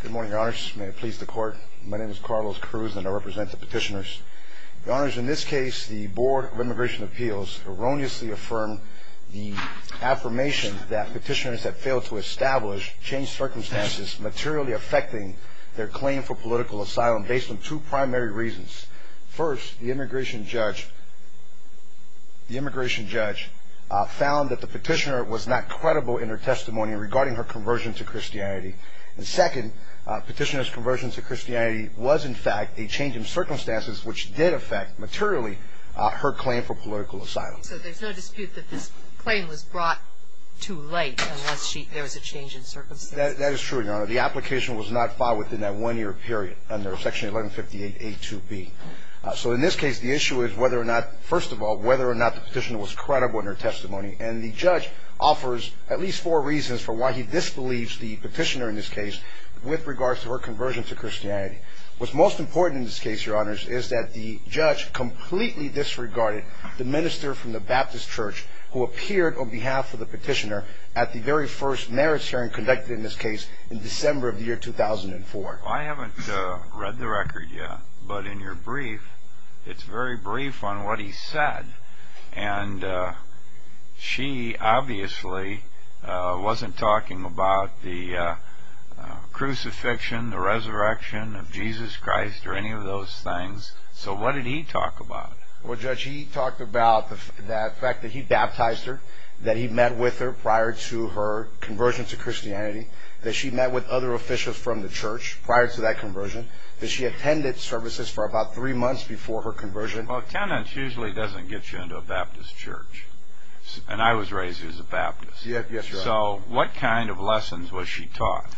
Good morning, your honors. May it please the court. My name is Carlos Cruz, and I represent the petitioners. Your honors, in this case, the Board of Immigration Appeals erroneously affirmed the affirmation that petitioners that failed to establish changed circumstances materially affecting their claim for political asylum based on two primary reasons. First, the immigration judge found that the petitioner was not credible in her testimony regarding her conversion to Christianity. And second, petitioner's conversion to Christianity was, in fact, a change in circumstances which did affect materially her claim for political asylum. So there's no dispute that this claim was brought to light unless there was a change in circumstances? That is true, your honor. The application was not filed within that one-year period under Section 1158A2B. So in this case, the issue is whether or not, first of all, whether or not the petitioner was credible in her testimony. And the judge offers at least four reasons for why he disbelieves the petitioner in this case with regards to her conversion to Christianity. What's most important in this case, your honors, is that the judge completely disregarded the minister from the Baptist Church who appeared on behalf of the petitioner at the very first merits hearing conducted in this case in December of the year 2004. I haven't read the record yet, but in your brief, it's very brief on what he said. And she obviously wasn't talking about the crucifixion, the resurrection of Jesus Christ or any of those things. So what did he talk about? Well, Judge, he talked about the fact that he baptized her, that he met with her prior to her conversion to Christianity, that she met with other officials from the church prior to that conversion, that she attended services for about three months before her conversion. Well, attendance usually doesn't get you into a Baptist church. And I was raised as a Baptist. Yes, your honor. So what kind of lessons was she taught?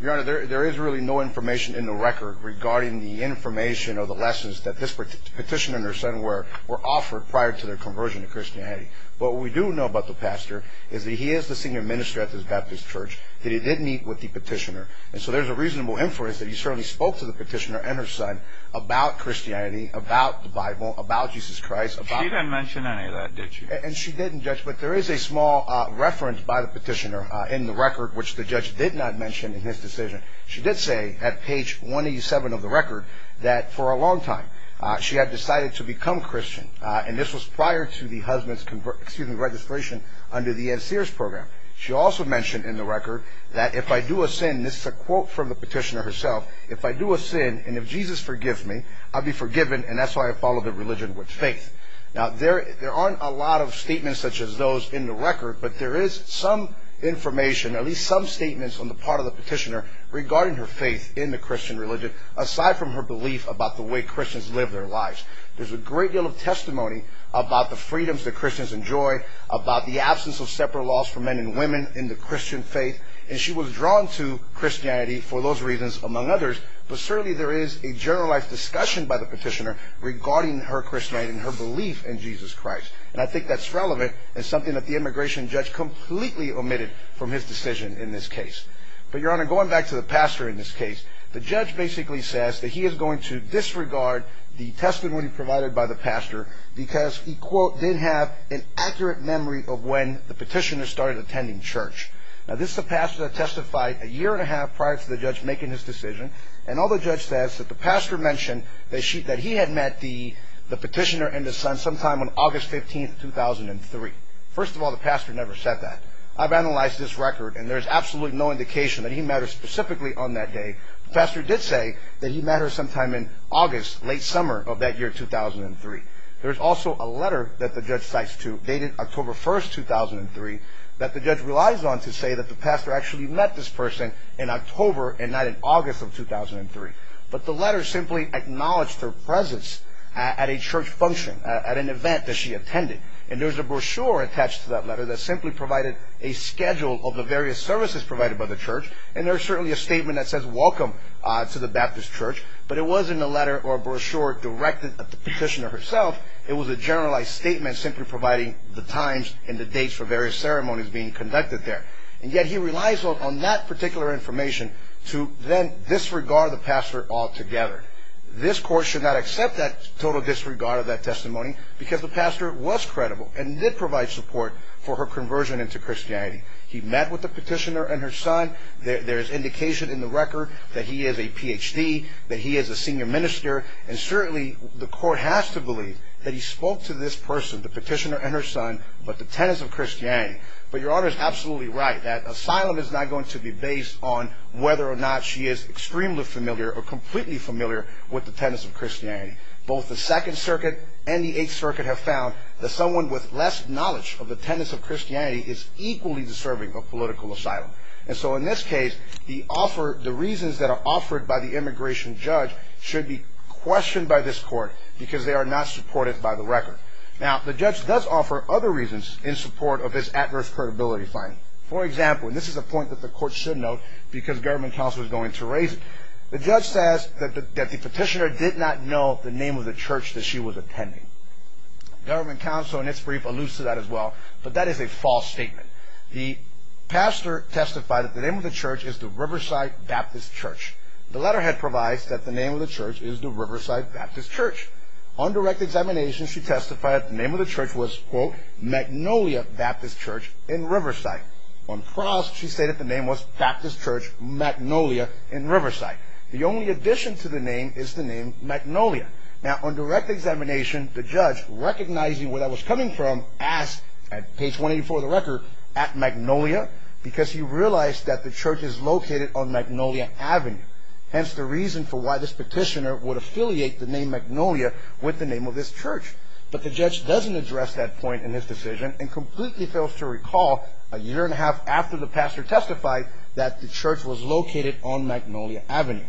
Your honor, there is really no information in the record regarding the information or the lessons that this petitioner and her son were offered prior to their conversion to Christianity. What we do know about the pastor is that he is the senior minister at this Baptist church, that he did meet with the petitioner. And so there's a reasonable inference that he certainly spoke to the petitioner and her son about Christianity, about the Bible, about Jesus Christ. She didn't mention any of that, did she? And she didn't, Judge. But there is a small reference by the petitioner in the record which the judge did not mention in his decision. She did say at page 187 of the record that for a long time she had decided to become Christian. And this was prior to the husband's, excuse me, registration under the Ed Sears program. She also mentioned in the record that if I do a sin, this is a quote from the petitioner herself, if I do a sin and if Jesus forgives me, I'll be forgiven and that's why I follow the religion with faith. Now, there aren't a lot of statements such as those in the record, but there is some information, at least some statements on the part of the petitioner regarding her faith in the Christian religion, aside from her belief about the way Christians live their lives. There's a great deal of testimony about the freedoms that Christians enjoy, about the absence of separate laws for men and women in the Christian faith. And she was drawn to Christianity for those reasons among others, but certainly there is a generalized discussion by the petitioner regarding her Christianity and her belief in Jesus Christ. And I think that's relevant and something that the immigration judge completely omitted from his decision in this case. But, Your Honor, going back to the pastor in this case, the judge basically says that he is going to disregard the testimony provided by the pastor because he, quote, didn't have an accurate memory of when the petitioner started attending church. Now, this is a pastor that testified a year and a half prior to the judge making his decision and all the judge says is that the pastor mentioned that he had met the petitioner and his son sometime on August 15, 2003. First of all, the pastor never said that. I've analyzed this record and there's absolutely no indication that he met her specifically on that day. The pastor did say that he met her sometime in August, late summer of that year, 2003. There's also a letter that the judge cites to dated October 1, 2003, that the judge relies on to say that the pastor actually met this person in October and not in August of 2003. But the letter simply acknowledged her presence at a church function, at an event that she attended. And there's a brochure attached to that letter that simply provided a schedule of the various services provided by the church and there's certainly a statement that says welcome to the Baptist Church, but it wasn't a letter or brochure directed at the petitioner herself. It was a generalized statement simply providing the times and the dates for various ceremonies being conducted there. And yet he relies on that particular information to then disregard the pastor altogether. However, this court should not accept that total disregard of that testimony because the pastor was credible and did provide support for her conversion into Christianity. He met with the petitioner and her son. There's indication in the record that he is a Ph.D., that he is a senior minister, and certainly the court has to believe that he spoke to this person, the petitioner and her son, about the tenets of Christianity. But Your Honor is absolutely right that asylum is not going to be based on whether or not she is extremely familiar or completely familiar with the tenets of Christianity. Both the Second Circuit and the Eighth Circuit have found that someone with less knowledge of the tenets of Christianity is equally deserving of political asylum. And so in this case, the reasons that are offered by the immigration judge should be questioned by this court because they are not supported by the record. Now, the judge does offer other reasons in support of this adverse credibility finding. For example, and this is a point that the court should note because government counsel is going to raise it, the judge says that the petitioner did not know the name of the church that she was attending. Government counsel in its brief alludes to that as well, but that is a false statement. The pastor testified that the name of the church is the Riverside Baptist Church. The letterhead provides that the name of the church is the Riverside Baptist Church. On direct examination, she testified that the name of the church was, quote, that the name was Baptist Church Magnolia in Riverside. The only addition to the name is the name Magnolia. Now, on direct examination, the judge, recognizing where that was coming from, asked, at page 184 of the record, at Magnolia, because he realized that the church is located on Magnolia Avenue. Hence the reason for why this petitioner would affiliate the name Magnolia with the name of this church. But the judge doesn't address that point in his decision and completely fails to recall a year and a half after the pastor testified that the church was located on Magnolia Avenue.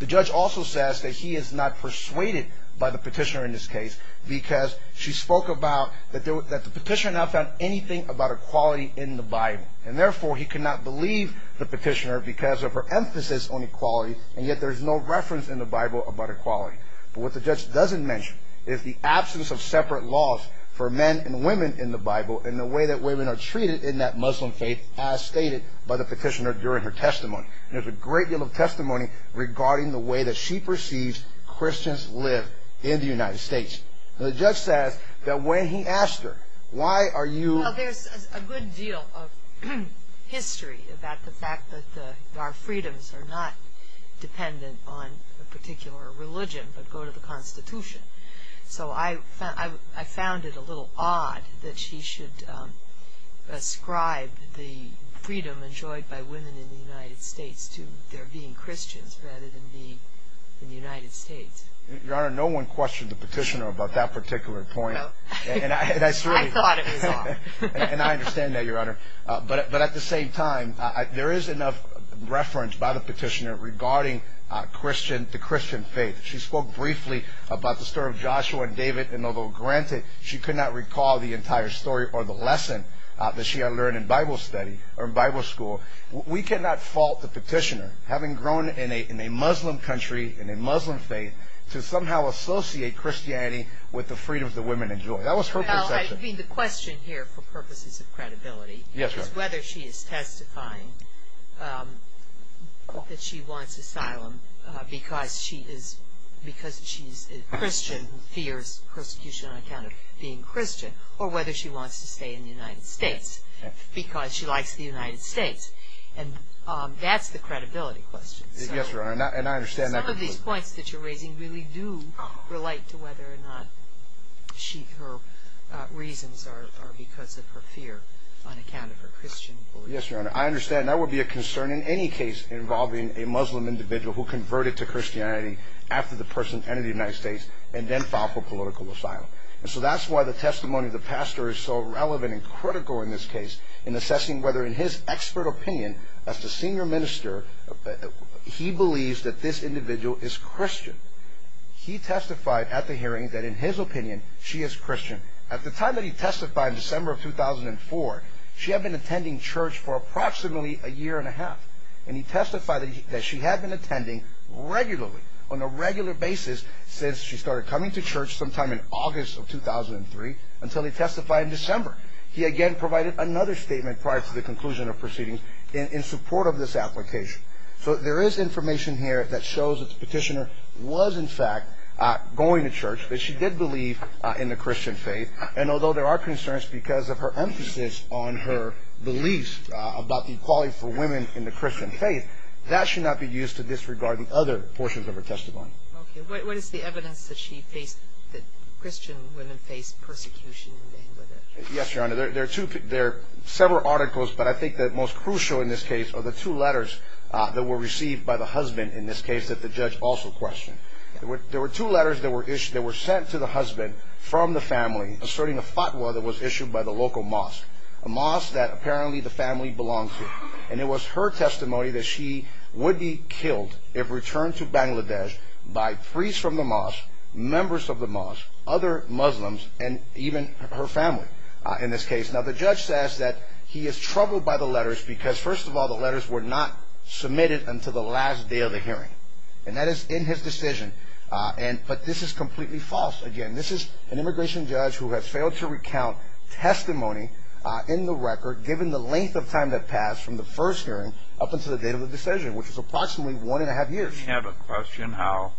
The judge also says that he is not persuaded by the petitioner in this case because she spoke about that the petitioner now found anything about equality in the Bible. And therefore, he could not believe the petitioner because of her emphasis on equality, and yet there is no reference in the Bible about equality. But what the judge doesn't mention is the absence of separate laws for men and women in the Bible and the way that women are treated in that Muslim faith as stated by the petitioner during her testimony. There's a great deal of testimony regarding the way that she perceives Christians live in the United States. The judge says that when he asked her, why are you... So I found it a little odd that she should ascribe the freedom enjoyed by women in the United States to their being Christians rather than being in the United States. Your Honor, no one questioned the petitioner about that particular point. I thought it was odd. And I understand that, Your Honor. But at the same time, there is enough reference by the petitioner regarding the Christian faith. She spoke briefly about the story of Joshua and David, and although, granted, she could not recall the entire story or the lesson that she had learned in Bible study, or in Bible school, we cannot fault the petitioner, having grown in a Muslim country, in a Muslim faith, to somehow associate Christianity with the freedom that women enjoy. That was her perception. Well, I mean, the question here, for purposes of credibility... Yes, Your Honor. ...is whether she is testifying that she wants asylum because she's a Christian, fears persecution on account of being Christian, or whether she wants to stay in the United States because she likes the United States. And that's the credibility question. Yes, Your Honor, and I understand that. Some of these points that you're raising really do relate to whether or not her reasons are because of her fear on account of her Christian beliefs. Yes, Your Honor, I understand. That would be a concern in any case involving a Muslim individual who converted to Christianity after the person entered the United States and then filed for political asylum. And so that's why the testimony of the pastor is so relevant and critical in this case in assessing whether, in his expert opinion, as the senior minister, he believes that this individual is Christian. He testified at the hearing that, in his opinion, she is Christian. At the time that he testified, December of 2004, she had been attending church for approximately a year and a half. And he testified that she had been attending regularly, on a regular basis, since she started coming to church sometime in August of 2003 until he testified in December. He again provided another statement prior to the conclusion of proceedings in support of this application. So there is information here that shows that the petitioner was, in fact, going to church, that she did believe in the Christian faith. And although there are concerns because of her emphasis on her beliefs about the equality for women in the Christian faith, that should not be used to disregard the other portions of her testimony. Okay. What is the evidence that she faced, that Christian women faced persecution in vain? Yes, Your Honor. There are several articles, but I think the most crucial in this case are the two letters that were received by the husband in this case that the judge also questioned. There were two letters that were sent to the husband from the family asserting a fatwa that was issued by the local mosque, a mosque that apparently the family belonged to. And it was her testimony that she would be killed if returned to Bangladesh by priests from the mosque, members of the mosque, other Muslims, and even her family in this case. Now, the judge says that he is troubled by the letters because, first of all, the letters were not submitted until the last day of the hearing. And that is in his decision. But this is completely false. Again, this is an immigration judge who has failed to recount testimony in the record given the length of time that passed from the first hearing up until the date of the decision, which was approximately one and a half years. Did he have a question how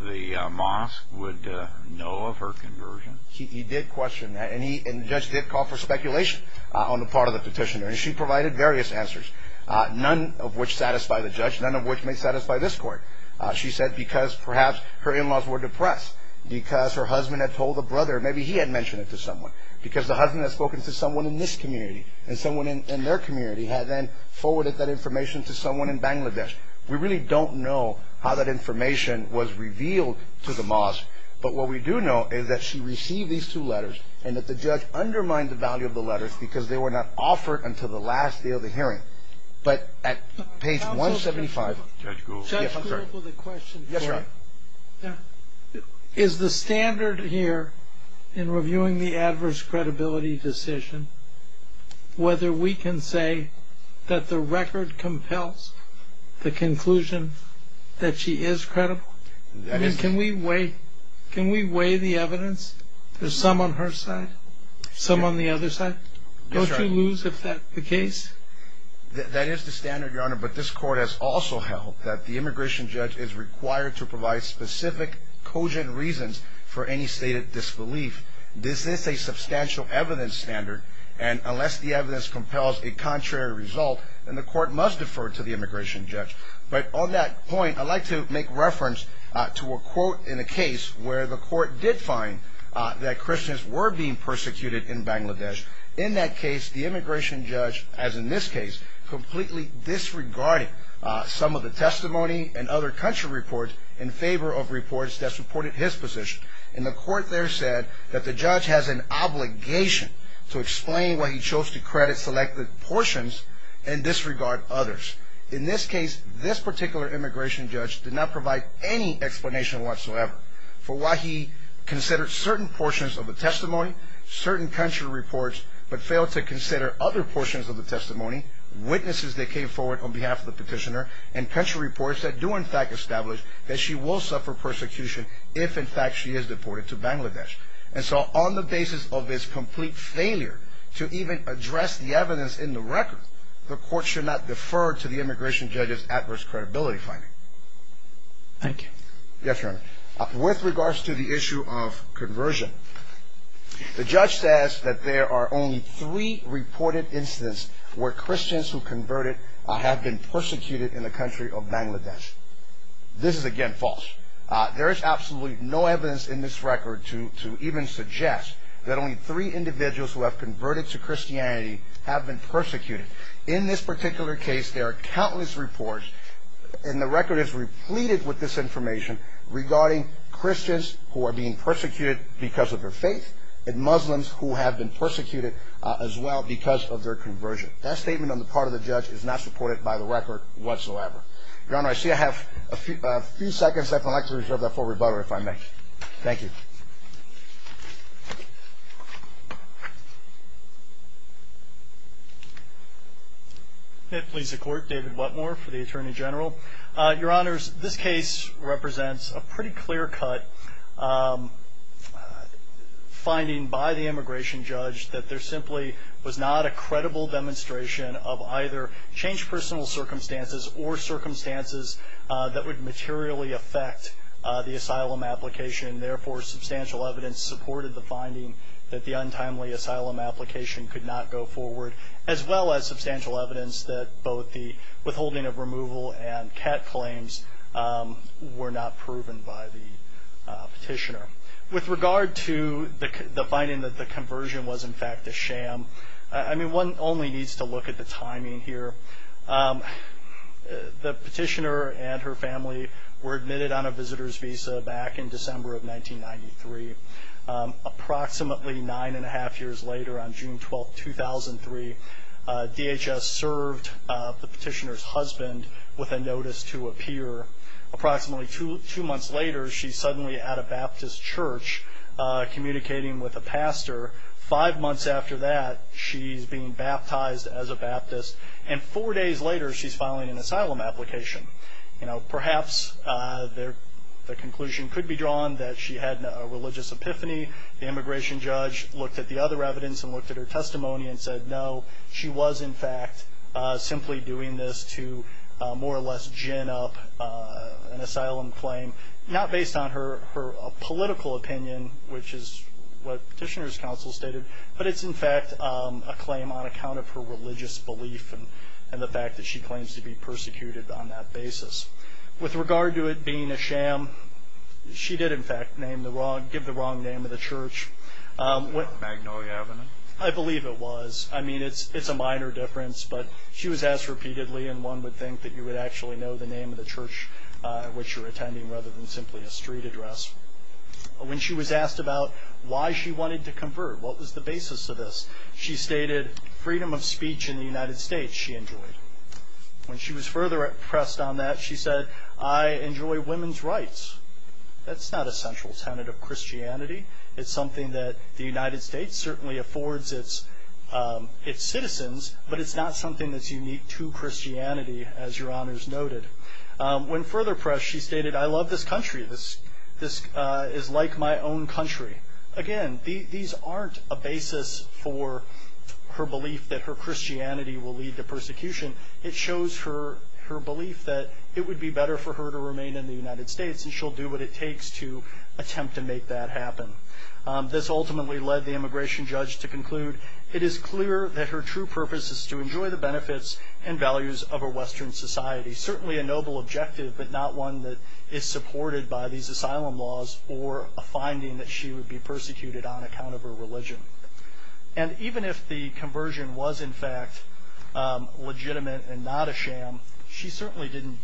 the mosque would know of her conversion? He did question that, and the judge did call for speculation on the part of the petitioner. She provided various answers, none of which satisfy the judge, none of which may satisfy this court. She said because perhaps her in-laws were depressed, because her husband had told a brother, maybe he had mentioned it to someone, because the husband had spoken to someone in this community and someone in their community had then forwarded that information to someone in Bangladesh. We really don't know how that information was revealed to the mosque, but what we do know is that she received these two letters and that the judge undermined the value of the letters because they were not offered until the last day of the hearing. But at page 175, Judge Gould will the question. Yes, sir. Is the standard here in reviewing the adverse credibility decision whether we can say that the record compels the conclusion that she is credible? Can we weigh the evidence? There's some on her side, some on the other side. Yes, sir. Don't you lose the case? That is the standard, Your Honor, but this court has also held that the immigration judge is required to provide specific, cogent reasons for any stated disbelief. This is a substantial evidence standard, and unless the evidence compels a contrary result, then the court must defer to the immigration judge. But on that point, I'd like to make reference to a quote in the case where the court did find that Christians were being persecuted in Bangladesh. In that case, the immigration judge, as in this case, completely disregarded some of the testimony and other country reports in favor of reports that supported his position. And the court there said that the judge has an obligation to explain why he chose to credit selected portions and disregard others. In this case, this particular immigration judge did not provide any explanation whatsoever for why he considered certain portions of the testimony, certain country reports, but failed to consider other portions of the testimony, witnesses that came forward on behalf of the petitioner, and country reports that do, in fact, establish that she will suffer persecution if, in fact, she is deported to Bangladesh. And so on the basis of his complete failure to even address the evidence in the record, the court should not defer to the immigration judge's adverse credibility finding. Thank you. Yes, Your Honor. With regards to the issue of conversion, the judge says that there are only three reported incidents where Christians who converted have been persecuted in the country of Bangladesh. This is, again, false. There is absolutely no evidence in this record to even suggest that only three individuals who have converted to Christianity have been persecuted. In this particular case, there are countless reports, and the record is repleted with this information, regarding Christians who are being persecuted because of their faith and Muslims who have been persecuted as well because of their conversion. That statement on the part of the judge is not supported by the record whatsoever. Your Honor, I see I have a few seconds left. I'd like to reserve that for rebuttal, if I may. Thank you. If it pleases the Court, David Whatmore for the Attorney General. Your Honors, this case represents a pretty clear-cut finding by the immigration judge that there simply was not a credible demonstration of either changed personal circumstances or circumstances that would materially affect the asylum application. Therefore, substantial evidence supported the finding that the untimely asylum application could not go forward, as well as substantial evidence that both the withholding of removal and CAT claims were not proven by the petitioner. With regard to the finding that the conversion was, in fact, a sham, I mean, one only needs to look at the timing here. The petitioner and her family were admitted on a visitor's visa back in December of 1993. Approximately nine and a half years later, on June 12, 2003, DHS served the petitioner's husband with a notice to appear. Approximately two months later, she's suddenly at a Baptist church communicating with a pastor. Five months after that, she's being baptized as a Baptist. And four days later, she's filing an asylum application. Perhaps the conclusion could be drawn that she had a religious epiphany. The immigration judge looked at the other evidence and looked at her testimony and said, no, she was, in fact, simply doing this to more or less gin up an asylum claim, not based on her political opinion, which is what petitioner's counsel stated, but it's, in fact, a claim on account of her religious belief and the fact that she claims to be persecuted on that basis. With regard to it being a sham, she did, in fact, give the wrong name of the church. Magnolia Avenue? I believe it was. I mean, it's a minor difference, but she was asked repeatedly, and one would think that you would actually know the name of the church at which you're attending rather than simply a street address. When she was asked about why she wanted to convert, what was the basis of this, she stated freedom of speech in the United States she enjoyed. When she was further pressed on that, she said, I enjoy women's rights. That's not a central tenet of Christianity. It's something that the United States certainly affords its citizens, but it's not something that's unique to Christianity, as Your Honors noted. When further pressed, she stated, I love this country. This is like my own country. Again, these aren't a basis for her belief that her Christianity will lead to persecution. It shows her belief that it would be better for her to remain in the United States, and she'll do what it takes to attempt to make that happen. This ultimately led the immigration judge to conclude, it is clear that her true purpose is to enjoy the benefits and values of a Western society, certainly a noble objective, but not one that is supported by these asylum laws or a finding that she would be persecuted on account of her religion. And even if the conversion was, in fact, legitimate and not a sham, she certainly didn't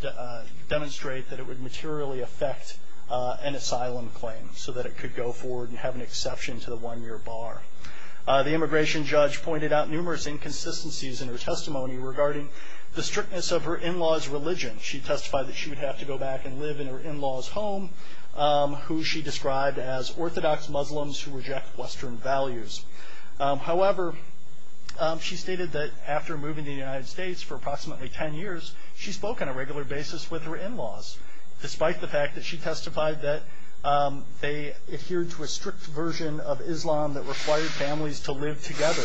demonstrate that it would materially affect an asylum claim so that it could go forward and have an exception to the one-year bar. The immigration judge pointed out numerous inconsistencies in her testimony regarding the strictness of her in-law's religion. She testified that she would have to go back and live in her in-law's home, who she described as orthodox Muslims who reject Western values. However, she stated that after moving to the United States for approximately 10 years, she spoke on a regular basis with her in-laws, despite the fact that she testified that they adhered to a strict version of Islam that required families to live together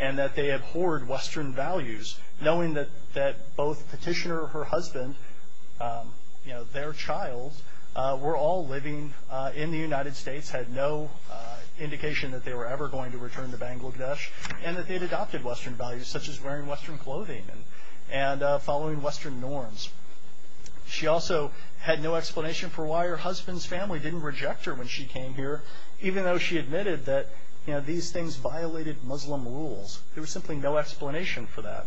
and that they abhorred Western values, knowing that both petitioner and her husband, their child, were all living in the United States, had no indication that they were ever going to return to Bangladesh, and that they had adopted Western values, such as wearing Western clothing and following Western norms. She also had no explanation for why her husband's family didn't reject her when she came here, even though she admitted that these things violated Muslim rules. There was simply no explanation for that.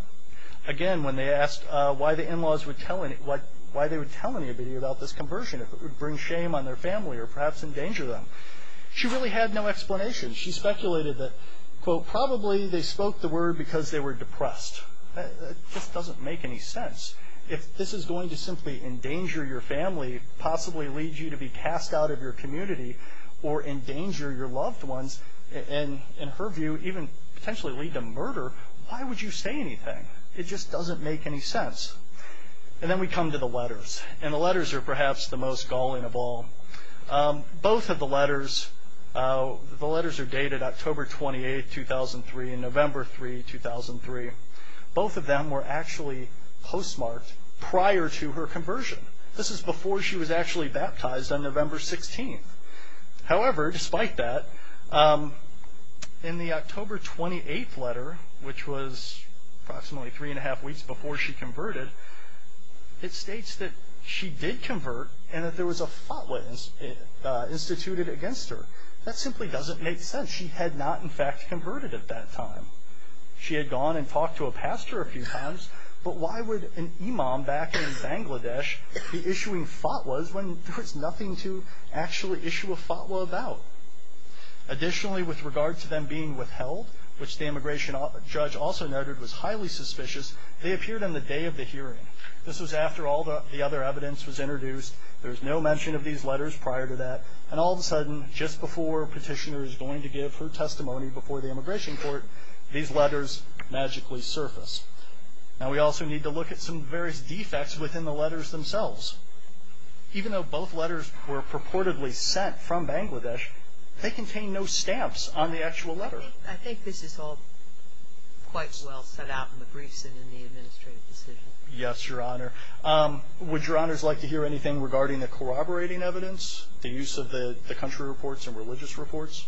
Again, when they asked why they would tell anybody about this conversion, if it would bring shame on their family or perhaps endanger them, she really had no explanation. She speculated that, quote, probably they spoke the word because they were depressed. That just doesn't make any sense. If this is going to simply endanger your family, possibly lead you to be cast out of your community or endanger your loved ones, and in her view even potentially lead to murder, why would you say anything? It just doesn't make any sense. And then we come to the letters, and the letters are perhaps the most galling of all. Both of the letters are dated October 28, 2003 and November 3, 2003. Both of them were actually postmarked prior to her conversion. This is before she was actually baptized on November 16. However, despite that, in the October 28 letter, which was approximately three and a half weeks before she converted, it states that she did convert and that there was a fatwa instituted against her. That simply doesn't make sense. She had not, in fact, converted at that time. She had gone and talked to a pastor a few times, but why would an imam back in Bangladesh be issuing fatwas when there was nothing to actually issue a fatwa about? Additionally, with regard to them being withheld, which the immigration judge also noted was highly suspicious, they appeared on the day of the hearing. This was after all the other evidence was introduced. There was no mention of these letters prior to that, and all of a sudden, just before Petitioner is going to give her testimony before the immigration court, these letters magically surfaced. Now, we also need to look at some various defects within the letters themselves. Even though both letters were purportedly sent from Bangladesh, they contain no stamps on the actual letter. I think this is all quite well set out in the briefs and in the administrative decision. Yes, Your Honor. Would Your Honors like to hear anything regarding the corroborating evidence, the use of the country reports and religious reports?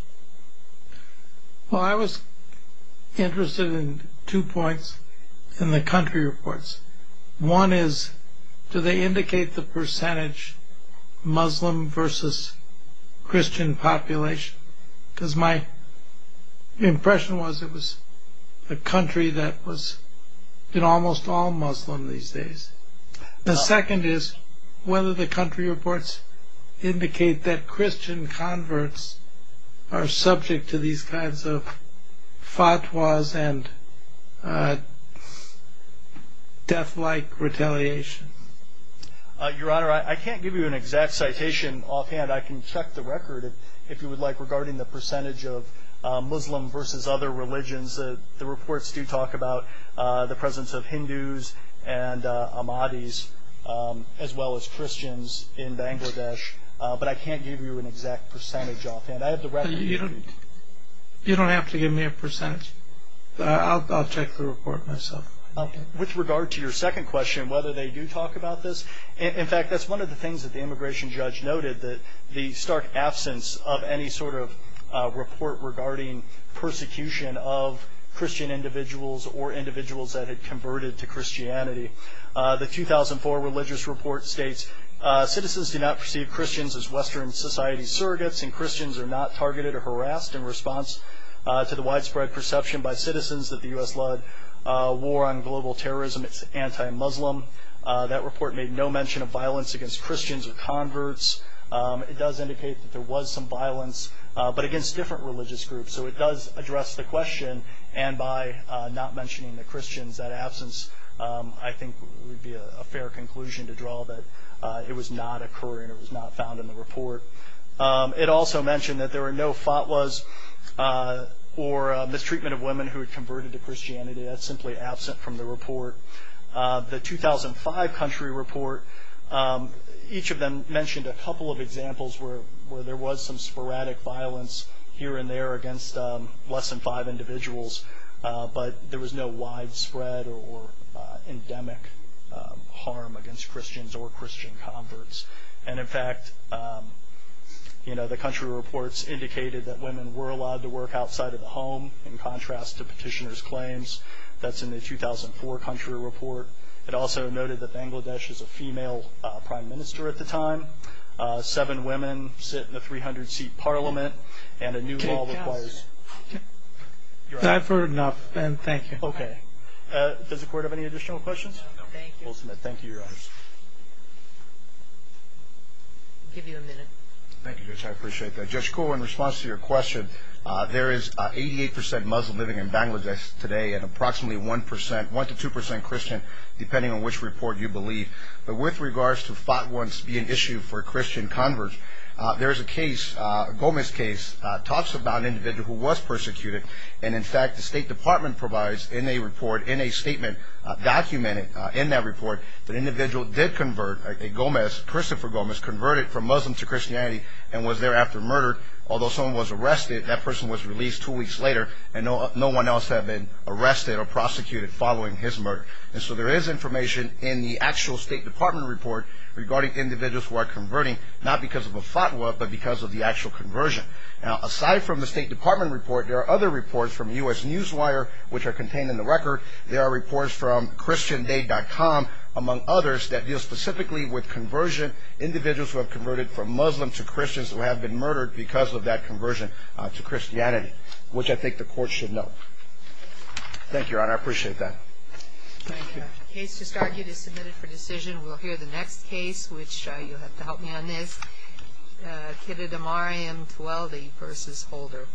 Well, I was interested in two points in the country reports. One is, do they indicate the percentage Muslim versus Christian population? Because my impression was it was a country that was almost all Muslim these days. The second is, whether the country reports indicate that Christian converts are subject to these kinds of fatwas and death-like retaliation. Your Honor, I can't give you an exact citation offhand. I can check the record, if you would like, regarding the percentage of Muslim versus other religions. The reports do talk about the presence of Hindus and Ahmadis, as well as Christians in Bangladesh. But I can't give you an exact percentage offhand. You don't have to give me a percentage. I'll check the report myself. With regard to your second question, whether they do talk about this, in fact, that's one of the things that the immigration judge noted, that the stark absence of any sort of report regarding persecution of Christian individuals or individuals that had converted to Christianity. The 2004 religious report states, citizens do not perceive Christians as Western society surrogates, and Christians are not targeted or harassed in response to the widespread perception by citizens that the U.S. led a war on global terrorism. It's anti-Muslim. That report made no mention of violence against Christians or converts. It does indicate that there was some violence, but against different religious groups. So it does address the question. And by not mentioning the Christians, that absence, I think, would be a fair conclusion to draw that it was not occurring, it was not found in the report. It also mentioned that there were no fatwas or mistreatment of women who had converted to Christianity. That's simply absent from the report. The 2005 country report, each of them mentioned a couple of examples where there was some sporadic violence here and there against less than five individuals, but there was no widespread or endemic harm against Christians or Christian converts. And, in fact, the country reports indicated that women were allowed to work outside of the home, in contrast to petitioners' claims. That's in the 2004 country report. It also noted that Bangladesh is a female prime minister at the time. Seven women sit in a 300-seat parliament, and a new law requires- I've heard enough, and thank you. Okay. Does the court have any additional questions? No. Thank you. We'll submit. Thank you, Your Honors. I'll give you a minute. Thank you, Judge. I appreciate that. Judge Koh, in response to your question, there is 88 percent Muslim living in Bangladesh today and approximately 1 percent, 1 to 2 percent Christian, depending on which report you believe. But with regards to fatwas being an issue for Christian converts, there is a case, a Gomez case, talks about an individual who was persecuted. And, in fact, the State Department provides in a report, in a statement documented in that report, that an individual did convert, a Gomez, Christopher Gomez, converted from Muslim to Christianity and was thereafter murdered. Although someone was arrested, that person was released two weeks later, and no one else had been arrested or prosecuted following his murder. And so there is information in the actual State Department report regarding individuals who are converting, not because of a fatwa but because of the actual conversion. Now, aside from the State Department report, there are other reports from U.S. Newswire, which are contained in the record. There are reports from ChristianDay.com, among others, that deal specifically with conversion, individuals who have converted from Muslim to Christians who have been murdered because of that conversion to Christianity, which I think the court should note. Thank you, Your Honor. I appreciate that. Thank you. The case just argued is submitted for decision. We'll hear the next case, which you'll have to help me on this, Kittidimari and Tuoldi v. Holder.